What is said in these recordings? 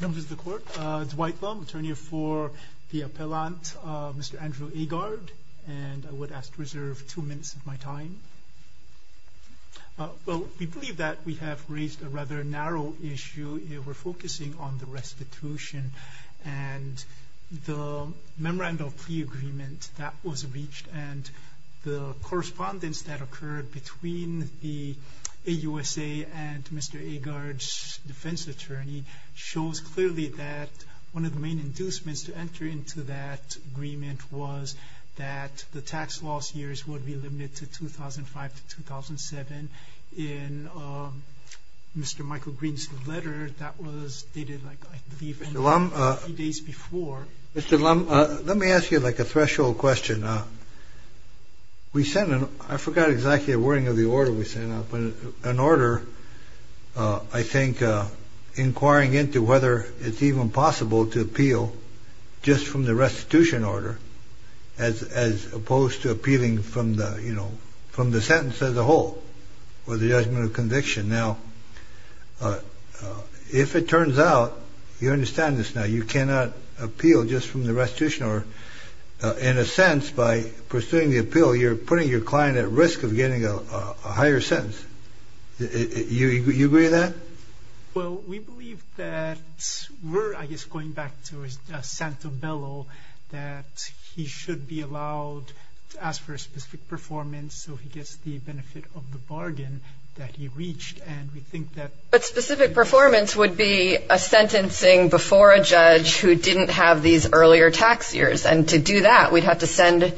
Members of the Court, Dwight Lum, attorney for the appellant, Mr. Andrew Agard, and I would ask to reserve two minutes of my time. Well, we believe that we have raised a rather narrow issue. We're focusing on the restitution and the memorandum of plea agreement that was reached and the correspondence that occurred between the AUSA and Mr. Agard's defense attorney shows clearly that one of the main inducements to enter into that agreement was that the tax loss years would be limited to 2005 to 2007. In Mr. Michael Green's letter that was Mr. Lum, let me ask you like a threshold question. We sent an, I forgot exactly the wording of the order we sent out, but an order I think inquiring into whether it's even possible to appeal just from the restitution order as opposed to appealing from the, you know, from the sentence as a whole or the judgment of conviction. Now, if it turns out, you understand this now, you cannot appeal just from the restitution order. In a sense, by pursuing the appeal, you're putting your client at risk of getting a higher sentence. You agree with that? Well, we believe that we're, I guess, going back to Santa Bello, that he should be allowed to ask for a specific performance so he gets the benefit of the bargain that he reached. And we think that... But specific performance would be a sentencing before a judge who didn't have these earlier tax years. And to do that, we'd have to send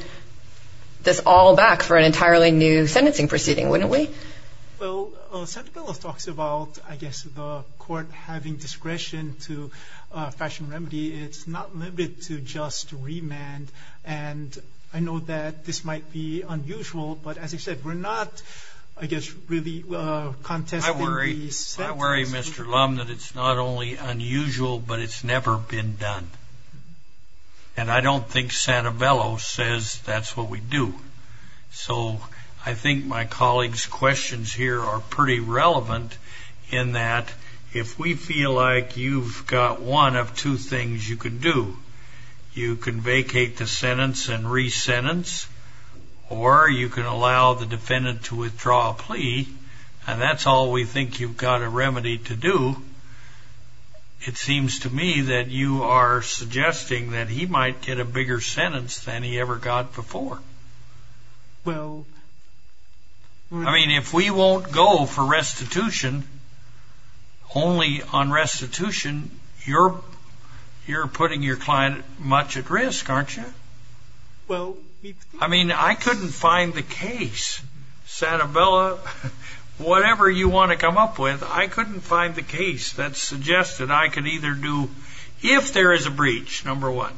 this all back for an entirely new sentencing proceeding, wouldn't we? Well, Santa Bello talks about, I guess, the court having discretion to fashion remedy. It's not limited to just remand. And I know that this might be unusual, but as I said, we're not, I guess, really contesting... I worry, Mr. Lum, that it's not only unusual, but it's never been done. And I don't think Santa Bello says that's what we do. So I think my colleagues' questions here are pretty relevant in that if we feel like you've got one of two things you can do, you can vacate the sentence and re-sentence, or you can allow the defendant to withdraw a plea. And that's all we think you've got a remedy to do. It seems to me that you are suggesting that he might get a bigger sentence than he ever got before. Well... I mean, if we won't go for restitution, only on restitution, you're putting your client much at risk, aren't you? Well... I mean, I couldn't find the case, Santa Bello. Whatever you want to come up with, I couldn't find the case that suggested I could either do... If there is a breach, number one,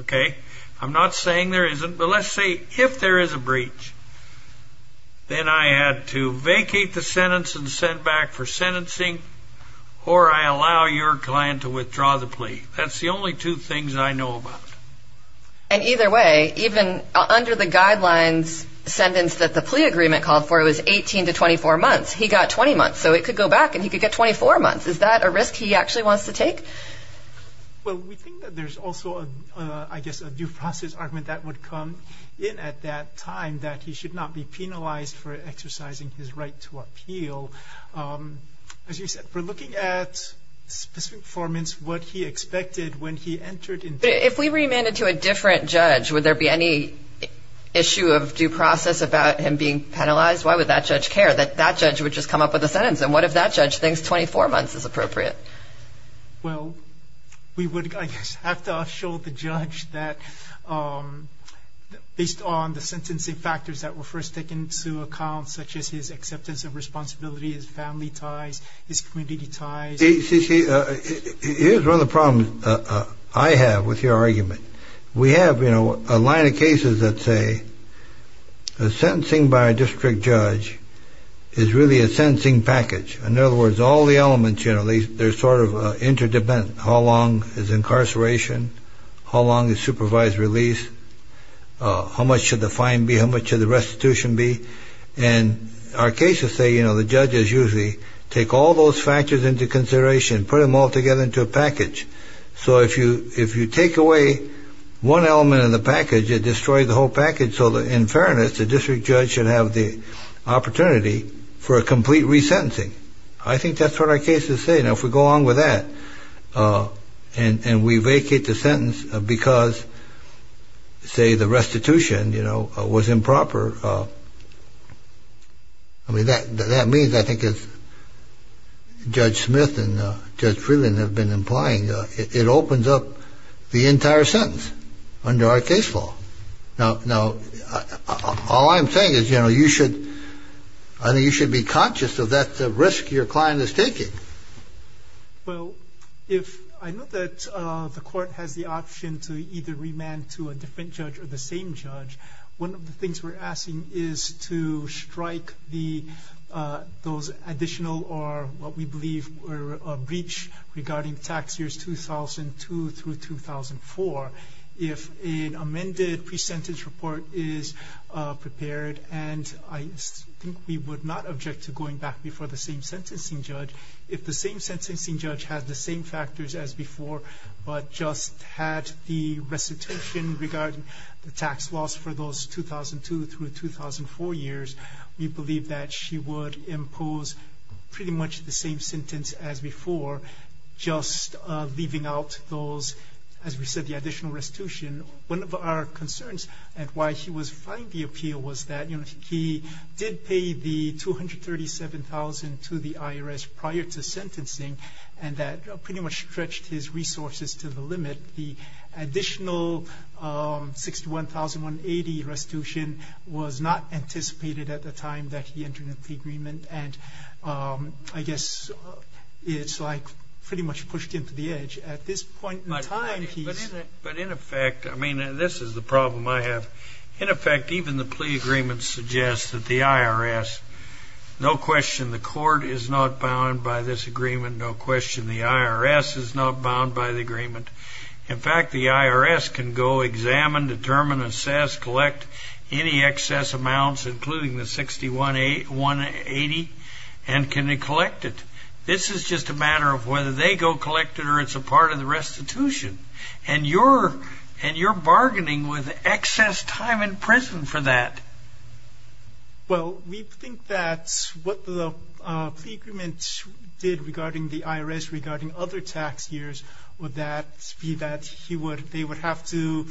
okay? I'm not saying there isn't, but let's say if there is a breach, then I had to vacate the sentence and send back for sentencing, or I allow your client to withdraw the plea. That's the only two things I know about. And either way, even under the guidelines, the sentence that the plea agreement called for was 18 to 24 months. He got 20 months, so it could go back and he could get 24 months. Is that a risk he actually wants to take? Well, we think that there's also, I guess, a due process argument that would come in at that time, that he should not be penalized for exercising his right to appeal. As you said, we're looking at specific performance, what he expected when he entered into... But if we remanded to a different judge, would there be any issue of due process about him being penalized? Why would that judge care that that judge would just come up with a sentence? And what if that judge thinks 24 months is appropriate? Well, we would, I guess, have to show the judge that based on the sentencing factors that were first taken into account, such as his acceptance of responsibility, his family ties, his community ties... See, here's one of the problems I have with your argument. We have, you know, a line of cases that say the sentencing by a district judge is really a sentencing package. In other words, all the elements, you know, they're sort of interdependent. How long is incarceration? How long is supervised release? How much should the fine be? How much should the restitution be? And our cases say, you know, the judges usually take all those factors into consideration, put them all together into a package. So if you take away one element of the package, it destroys the whole package. So in fairness, the district judge should have the opportunity for a complete resentencing. I think that's what our cases say. Now, if we go along with that and we vacate the sentence because, say, the restitution, you know, was improper, I mean, that means, I think, as Judge Smith and Judge Freeland have been implying, it opens up the entire sentence under our case law. Now, all I'm saying is, you know, you should be conscious of that risk your client is taking. Well, if I know that the court has the option to either remand to a different judge or the same judge, one of the things we're asking is to strike those additional or, what we believe, a breach regarding tax years 2002 through 2004. If an amended pre-sentence report is prepared, and I think we would not object to going back before the same sentencing judge, if the same sentencing judge had the same factors as before but just had the restitution regarding the tax loss for those 2002 through 2004 years, we believe that she would impose pretty much the same sentence as before, just leaving out those, as we said, the additional restitution. One of our concerns at why she was fighting the appeal was that, you know, he did pay the $237,000 to the IRS prior to sentencing, and that pretty much stretched his resources to the limit. The additional $61,180 restitution was not anticipated at the time that he entered into the agreement, and I guess it's like pretty much pushed him to the edge. At this point in time, he's ‑‑ But in effect, I mean, this is the problem I have. In effect, even the plea agreement suggests that the IRS, no question, the court is not bound by this agreement, no question, the IRS is not bound by the agreement. In fact, the IRS can go examine, determine, assess, collect any excess amounts, including the $61,180, and can they collect it. This is just a matter of whether they go collect it or it's a part of the restitution, and you're bargaining with excess time in prison for that. Well, we think that what the plea agreement did regarding the IRS, regarding other tax years, would that be that they would have to,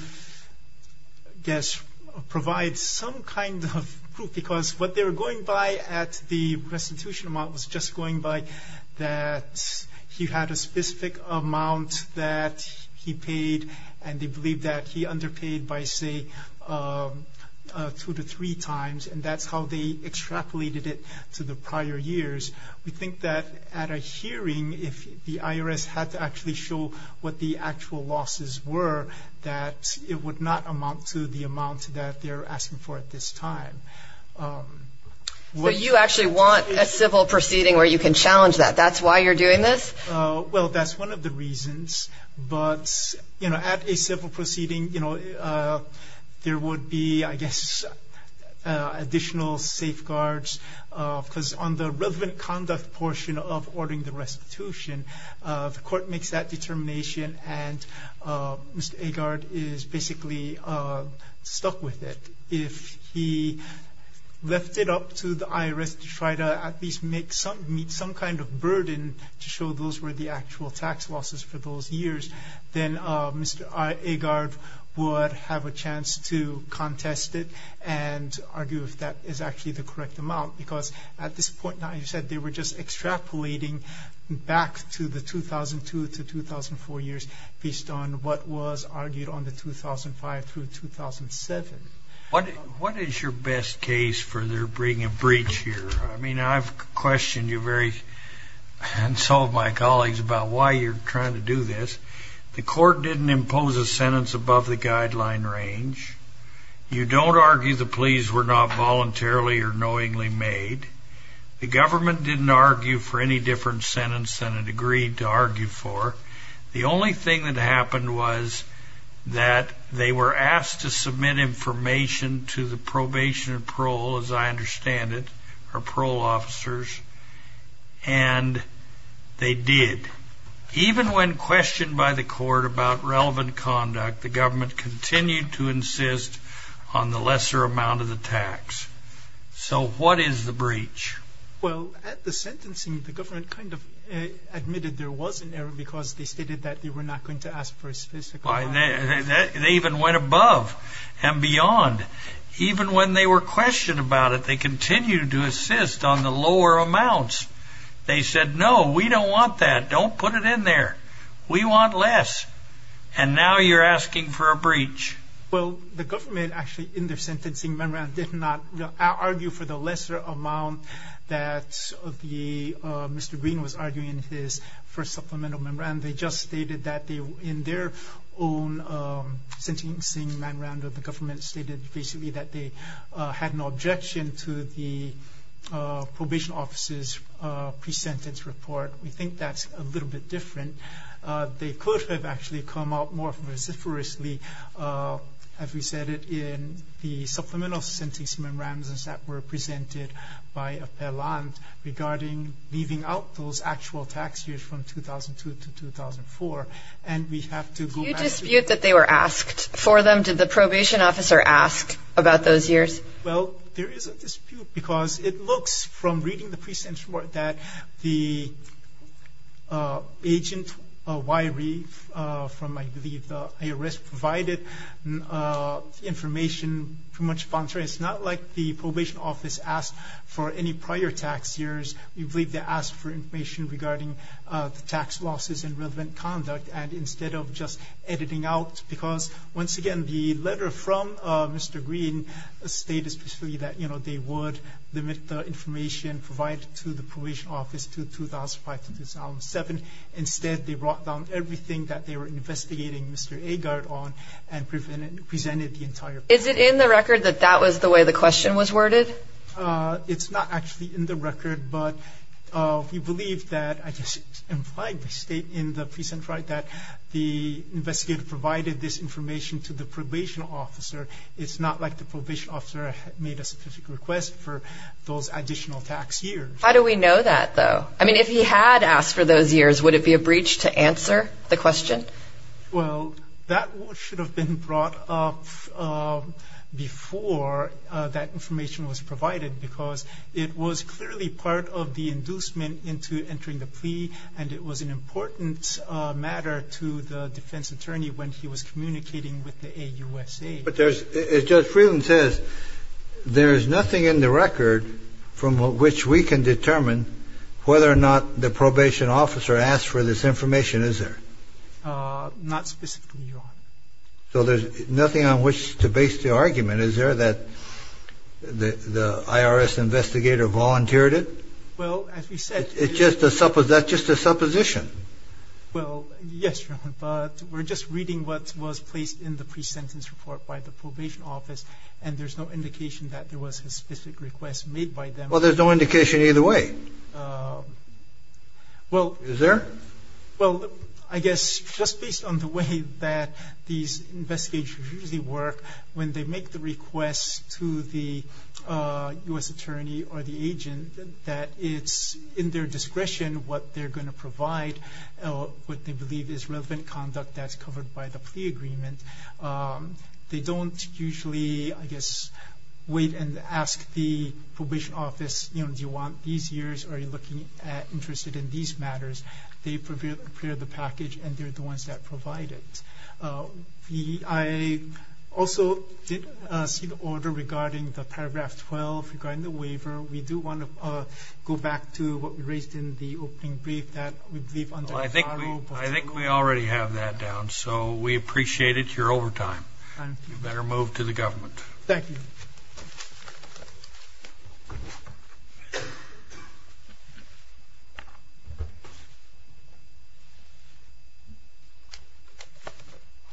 I guess, provide some kind of proof, because what they were going by at the restitution amount was just going by that he had a specific amount that he paid, and they believe that he underpaid by, say, two to three times, and that's how they extrapolated it to the prior years. We think that at a hearing, if the IRS had to actually show what the actual losses were, that it would not amount to the amount that they're asking for at this time. So you actually want a civil proceeding where you can challenge that. That's why you're doing this? Well, that's one of the reasons. But, you know, at a civil proceeding, you know, there would be, I guess, additional safeguards, because on the relevant conduct portion of ordering the restitution, the court makes that determination, and Mr. Agard is basically stuck with it. If he left it up to the IRS to try to at least meet some kind of burden to show those were the actual tax losses for those years, then Mr. Agard would have a chance to contest it and argue if that is actually the correct amount, because at this point now, as you said, they were just extrapolating back to the 2002 to 2004 years based on what was argued on the 2005 through 2007. What is your best case for their bringing a breach here? I mean, I've questioned you very, and so have my colleagues, about why you're trying to do this. The court didn't impose a sentence above the guideline range. You don't argue the pleas were not voluntarily or knowingly made. The government didn't argue for any different sentence than it agreed to argue for. The only thing that happened was that they were asked to submit information to the probation and parole, as I understand it, or parole officers, and they did. Even when questioned by the court about relevant conduct, the government continued to insist on the lesser amount of the tax. So what is the breach? Well, at the sentencing, the government kind of admitted there was an error because they stated that they were not going to ask for a specific amount. They even went above and beyond. Even when they were questioned about it, they continued to insist on the lower amounts. They said, no, we don't want that. Don't put it in there. We want less. And now you're asking for a breach. Well, the government actually, in their sentencing memorandum, did not argue for the lesser amount that Mr. Green was arguing in his first supplemental memorandum. They just stated that in their own sentencing memorandum, the government stated basically that they had no objection to the probation officer's pre-sentence report. We think that's a little bit different. They could have actually come out more vociferously, as we said, in the supplemental sentencing memorandums that were presented by Appellant regarding leaving out those actual tax years from 2002 to 2004. And we have to go back to the- Do you dispute that they were asked for them? Did the probation officer ask about those years? Well, there is a dispute, because it looks from reading the pre-sentence report that the agent, Wyrie, from, I believe, the IRS, provided information. Pretty much contrary. It's not like the probation office asked for any prior tax years. We believe they asked for information regarding the tax losses and relevant conduct, and instead of just editing out, because, once again, the letter from Mr. Green stated specifically that, you know, they would limit the information provided to the probation office to 2005 to 2007. Instead, they brought down everything that they were investigating Mr. Agard on and presented the entire- Is it in the record that that was the way the question was worded? It's not actually in the record, but we believe that, I guess, it's not like the probation officer made a specific request for those additional tax years. How do we know that, though? I mean, if he had asked for those years, would it be a breach to answer the question? Well, that should have been brought up before that information was provided, because it was clearly part of the inducement into entering the plea, and it was an important matter to the defense attorney when he was communicating with the AUSA. But there's – as Judge Freeland says, there is nothing in the record from which we can determine whether or not the probation officer asked for this information, is there? Not specifically, Your Honor. So there's nothing on which to base the argument. Is there, that the IRS investigator volunteered it? Well, as we said- It's just a – that's just a supposition. Well, yes, Your Honor, but we're just reading what was placed in the pre-sentence report by the probation office, and there's no indication that there was a specific request made by them. Well, there's no indication either way. Well- Is there? Well, I guess just based on the way that these investigators usually work, when they make the request to the U.S. attorney or the agent, that it's in their discretion what they're going to provide, what they believe is relevant conduct that's covered by the plea agreement. They don't usually, I guess, wait and ask the probation office, you know, do you want these years or are you looking at interested in these matters? They prepare the package, and they're the ones that provide it. I also did see the order regarding the paragraph 12, regarding the waiver. We do want to go back to what we raised in the opening brief that we believe under the- I think we already have that down, so we appreciate it. You're over time. You better move to the government. Thank you.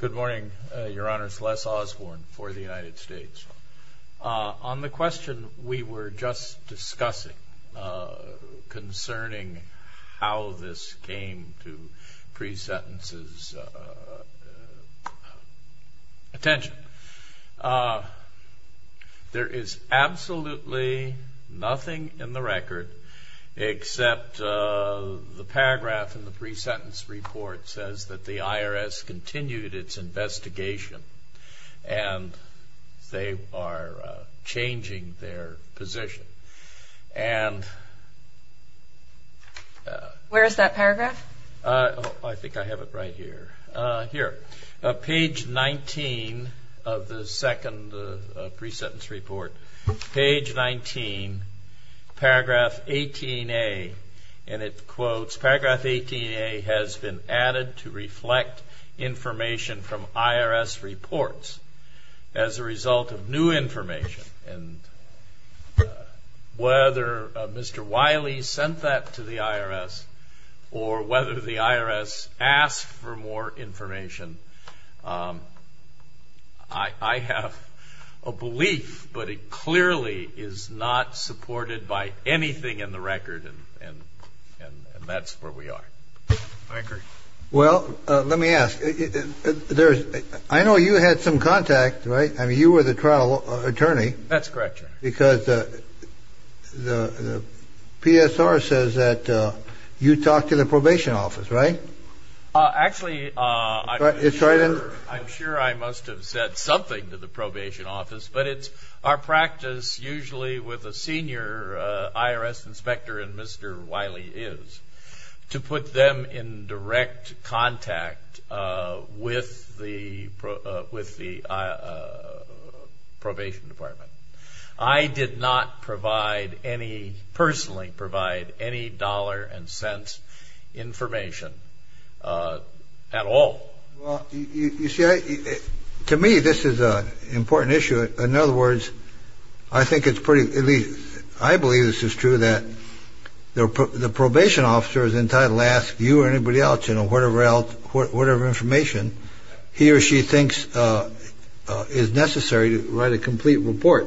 Good morning, Your Honors. Les Osborne for the United States. On the question we were just discussing concerning how this came to pre-sentence's attention, there is absolutely nothing in the record except the paragraph in the pre-sentence report says that the IRS continued its investigation, and they are changing their position. And- Where is that paragraph? I think I have it right here. Here, page 19 of the second pre-sentence report. Page 19, paragraph 18A, and it quotes, paragraph 18A has been added to reflect information from IRS reports as a result of new information. And whether Mr. Wiley sent that to the IRS or whether the IRS asked for more information, I have a belief, but it clearly is not supported by anything in the record, and that's where we are. I agree. Well, let me ask. I know you had some contact, right? I mean, you were the trial attorney. That's correct, Your Honor. Because the PSR says that you talked to the probation office, right? Actually, I'm sure I must have said something to the probation office, but it's our practice usually with a senior IRS inspector, and Mr. Wiley is, to put them in direct contact with the probation department. I did not personally provide any dollar and cents information at all. Well, you see, to me, this is an important issue. In other words, I think it's pretty, at least I believe this is true, that the probation officer is entitled to ask you or anybody else, you know, whatever information he or she thinks is necessary to write a complete report.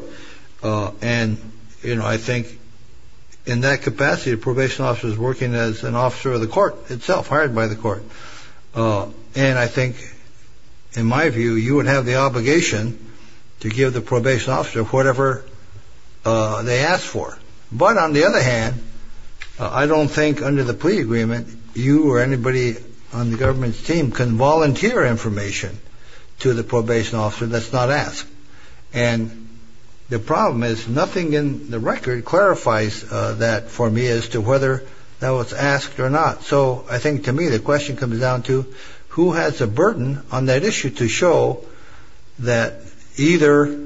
And, you know, I think in that capacity, the probation officer is working as an officer of the court itself, hired by the court, and I think, in my view, you would have the obligation to give the probation officer whatever they ask for. But, on the other hand, I don't think, under the plea agreement, you or anybody on the government's team can volunteer information to the probation officer that's not asked. And the problem is nothing in the record clarifies that for me as to whether that was asked or not. So I think, to me, the question comes down to who has a burden on that issue to show that either,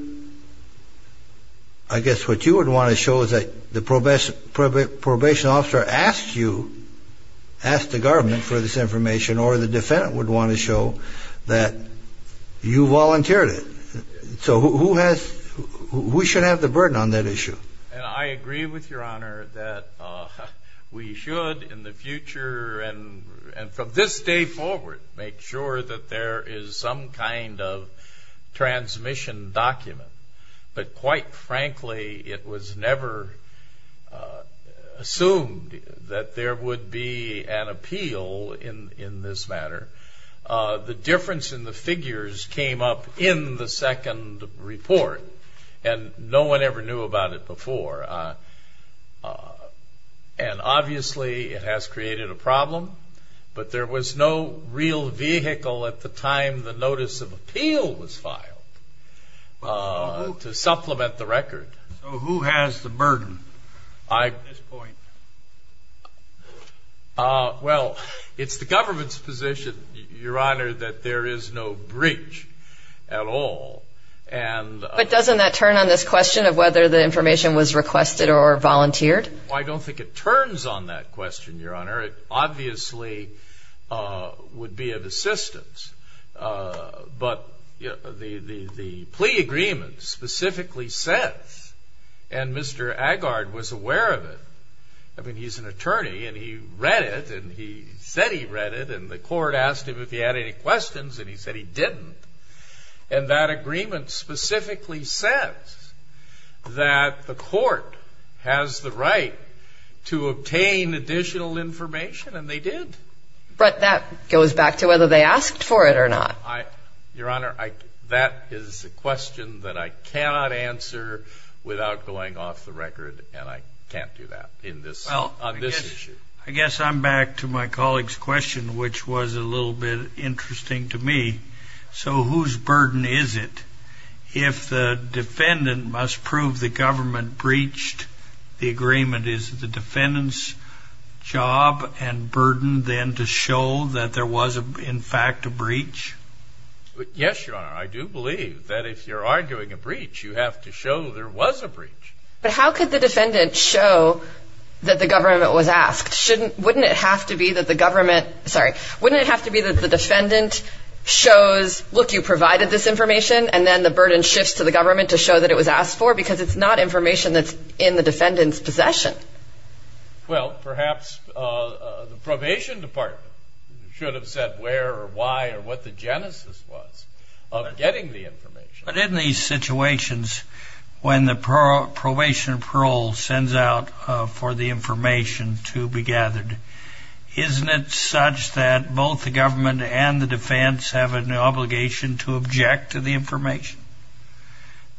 I guess what you would want to show is that the probation officer asked you, asked the government for this information, or the defendant would want to show that you volunteered it. So who has, who should have the burden on that issue? And I agree with Your Honor that we should, in the future and from this day forward, make sure that there is some kind of transmission document. But, quite frankly, it was never assumed that there would be an appeal in this matter. The difference in the figures came up in the second report, and no one ever knew about it before. And, obviously, it has created a problem, but there was no real vehicle at the time the notice of appeal was filed to supplement the record. So who has the burden at this point? Well, it's the government's position, Your Honor, that there is no breach at all. But doesn't that turn on this question of whether the information was requested or volunteered? I don't think it turns on that question, Your Honor. It obviously would be of assistance. But the plea agreement specifically says, and Mr. Agard was aware of it. I mean, he's an attorney, and he read it, and he said he read it, and the court asked him if he had any questions, and he said he didn't. And that agreement specifically says that the court has the right to obtain additional information, and they did. But that goes back to whether they asked for it or not. Your Honor, that is a question that I cannot answer without going off the record, and I can't do that on this issue. I guess I'm back to my colleague's question, which was a little bit interesting to me. So whose burden is it? If the defendant must prove the government breached the agreement, is the defendant's job and burden then to show that there was, in fact, a breach? Yes, Your Honor. I do believe that if you're arguing a breach, you have to show there was a breach. But how could the defendant show that the government was asked? Wouldn't it have to be that the government – sorry. Wouldn't it have to be that the defendant shows, look, you provided this information, and then the burden shifts to the government to show that it was asked for? Because it's not information that's in the defendant's possession. Well, perhaps the probation department should have said where or why or what the genesis was of getting the information. But in these situations, when the probation parole sends out for the information to be gathered, isn't it such that both the government and the defense have an obligation to object to the information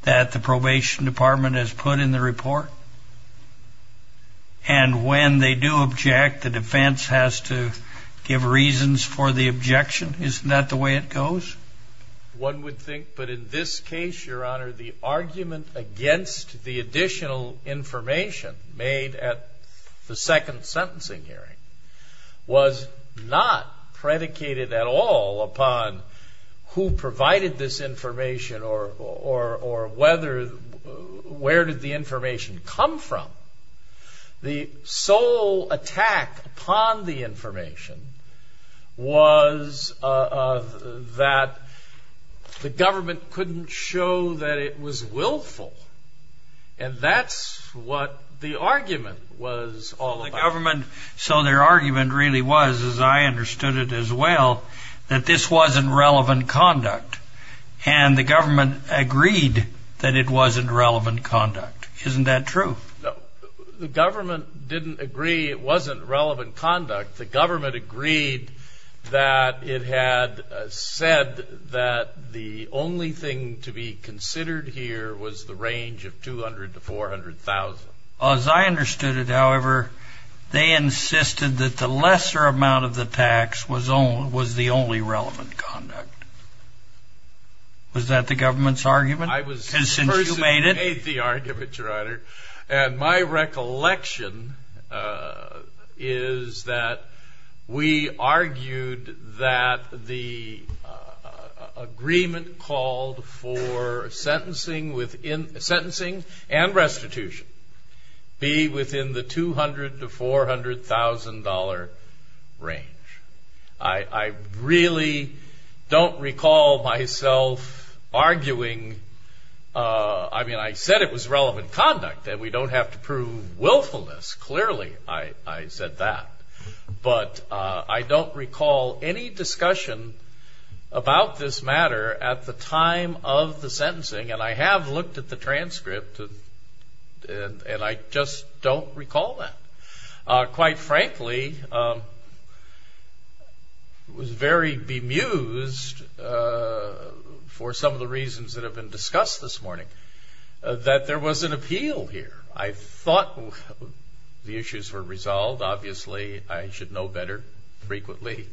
that the probation department has put in the report? And when they do object, the defense has to give reasons for the objection. Isn't that the way it goes? One would think. But in this case, Your Honor, the argument against the additional information made at the second sentencing hearing was not predicated at all upon who provided this information or whether – where did the information come from. The sole attack upon the information was that the government couldn't show that it was willful. And that's what the argument was all about. The government – so their argument really was, as I understood it as well, that this wasn't relevant conduct. And the government agreed that it wasn't relevant conduct. Isn't that true? No. The government didn't agree it wasn't relevant conduct. The government agreed that it had said that the only thing to be considered here was the range of 200,000 to 400,000. As I understood it, however, they insisted that the lesser amount of the tax was the only relevant conduct. Was that the government's argument since you made it? Thank you, Your Honor. And my recollection is that we argued that the agreement called for sentencing and restitution be within the 200,000 to 400,000 dollar range. I really don't recall myself arguing – I mean, I said it was relevant conduct and we don't have to prove willfulness. Clearly, I said that. But I don't recall any discussion about this matter at the time of the sentencing. And I have looked at the transcript and I just don't recall that. Quite frankly, I was very bemused for some of the reasons that have been discussed this morning that there was an appeal here. I thought the issues were resolved. Obviously, I should know better frequently.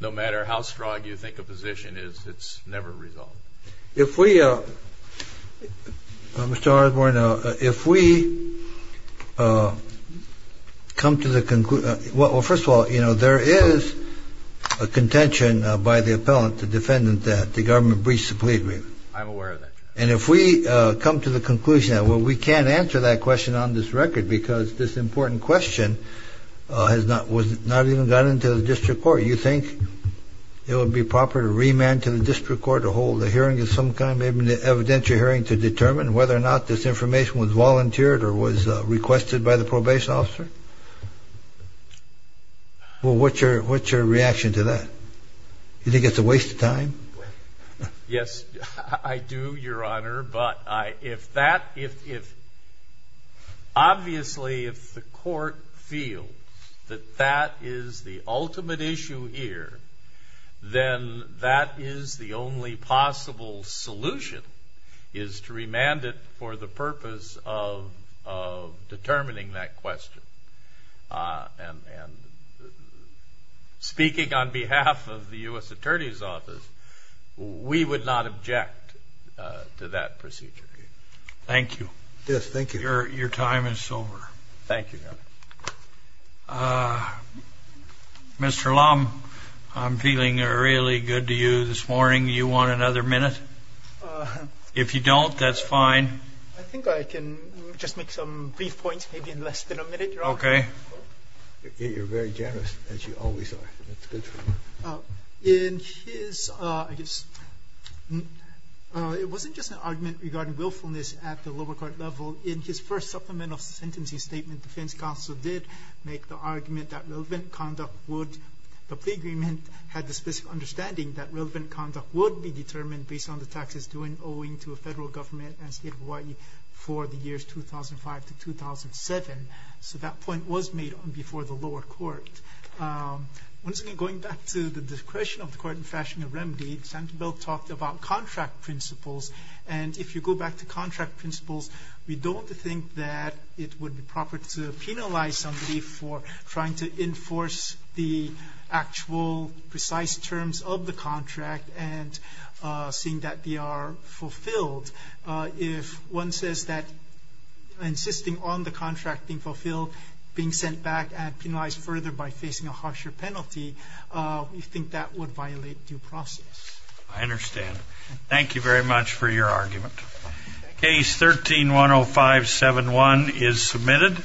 No matter how strong you think a position is, it's never resolved. If we – Mr. Osborne, if we come to the – well, first of all, you know, there is a contention by the appellant, the defendant, that the government breached the plea agreement. I'm aware of that, Your Honor. And if we come to the conclusion that, well, we can't answer that question on this record because this important question has not even gotten to the district court, you think it would be proper to remand to the district court to hold a hearing of some kind, maybe an evidentiary hearing to determine whether or not this information was volunteered or was requested by the probation officer? Well, what's your reaction to that? Do you think it's a waste of time? Yes, I do, Your Honor. Obviously, if the court feels that that is the ultimate issue here, then that is the only possible solution is to remand it for the purpose of determining that question. And speaking on behalf of the U.S. Attorney's Office, we would not object to that procedure. Thank you. Yes, thank you. Your time is over. Thank you, Your Honor. Mr. Lam, I'm feeling really good to you this morning. Do you want another minute? If you don't, that's fine. Okay. You're very generous, as you always are. That's good for you. In his, I guess, it wasn't just an argument regarding willfulness at the lower court level. In his first supplemental sentencing statement, the defense counsel did make the argument that relevant conduct would, the plea agreement had the specific understanding that relevant conduct would be determined based on the taxes owing to a federal government and State of Hawaii for the years 2005 to 2007. So that point was made before the lower court. Once again, going back to the discretion of the court in fashion of remedy, Senator Beall talked about contract principles. And if you go back to contract principles, we don't think that it would be proper to penalize somebody for trying to enforce the actual precise terms of the contract and seeing that they are fulfilled. If one says that insisting on the contract being fulfilled, being sent back, and penalized further by facing a harsher penalty, we think that would violate due process. I understand. Thank you very much for your argument. Case 13-10571 is submitted.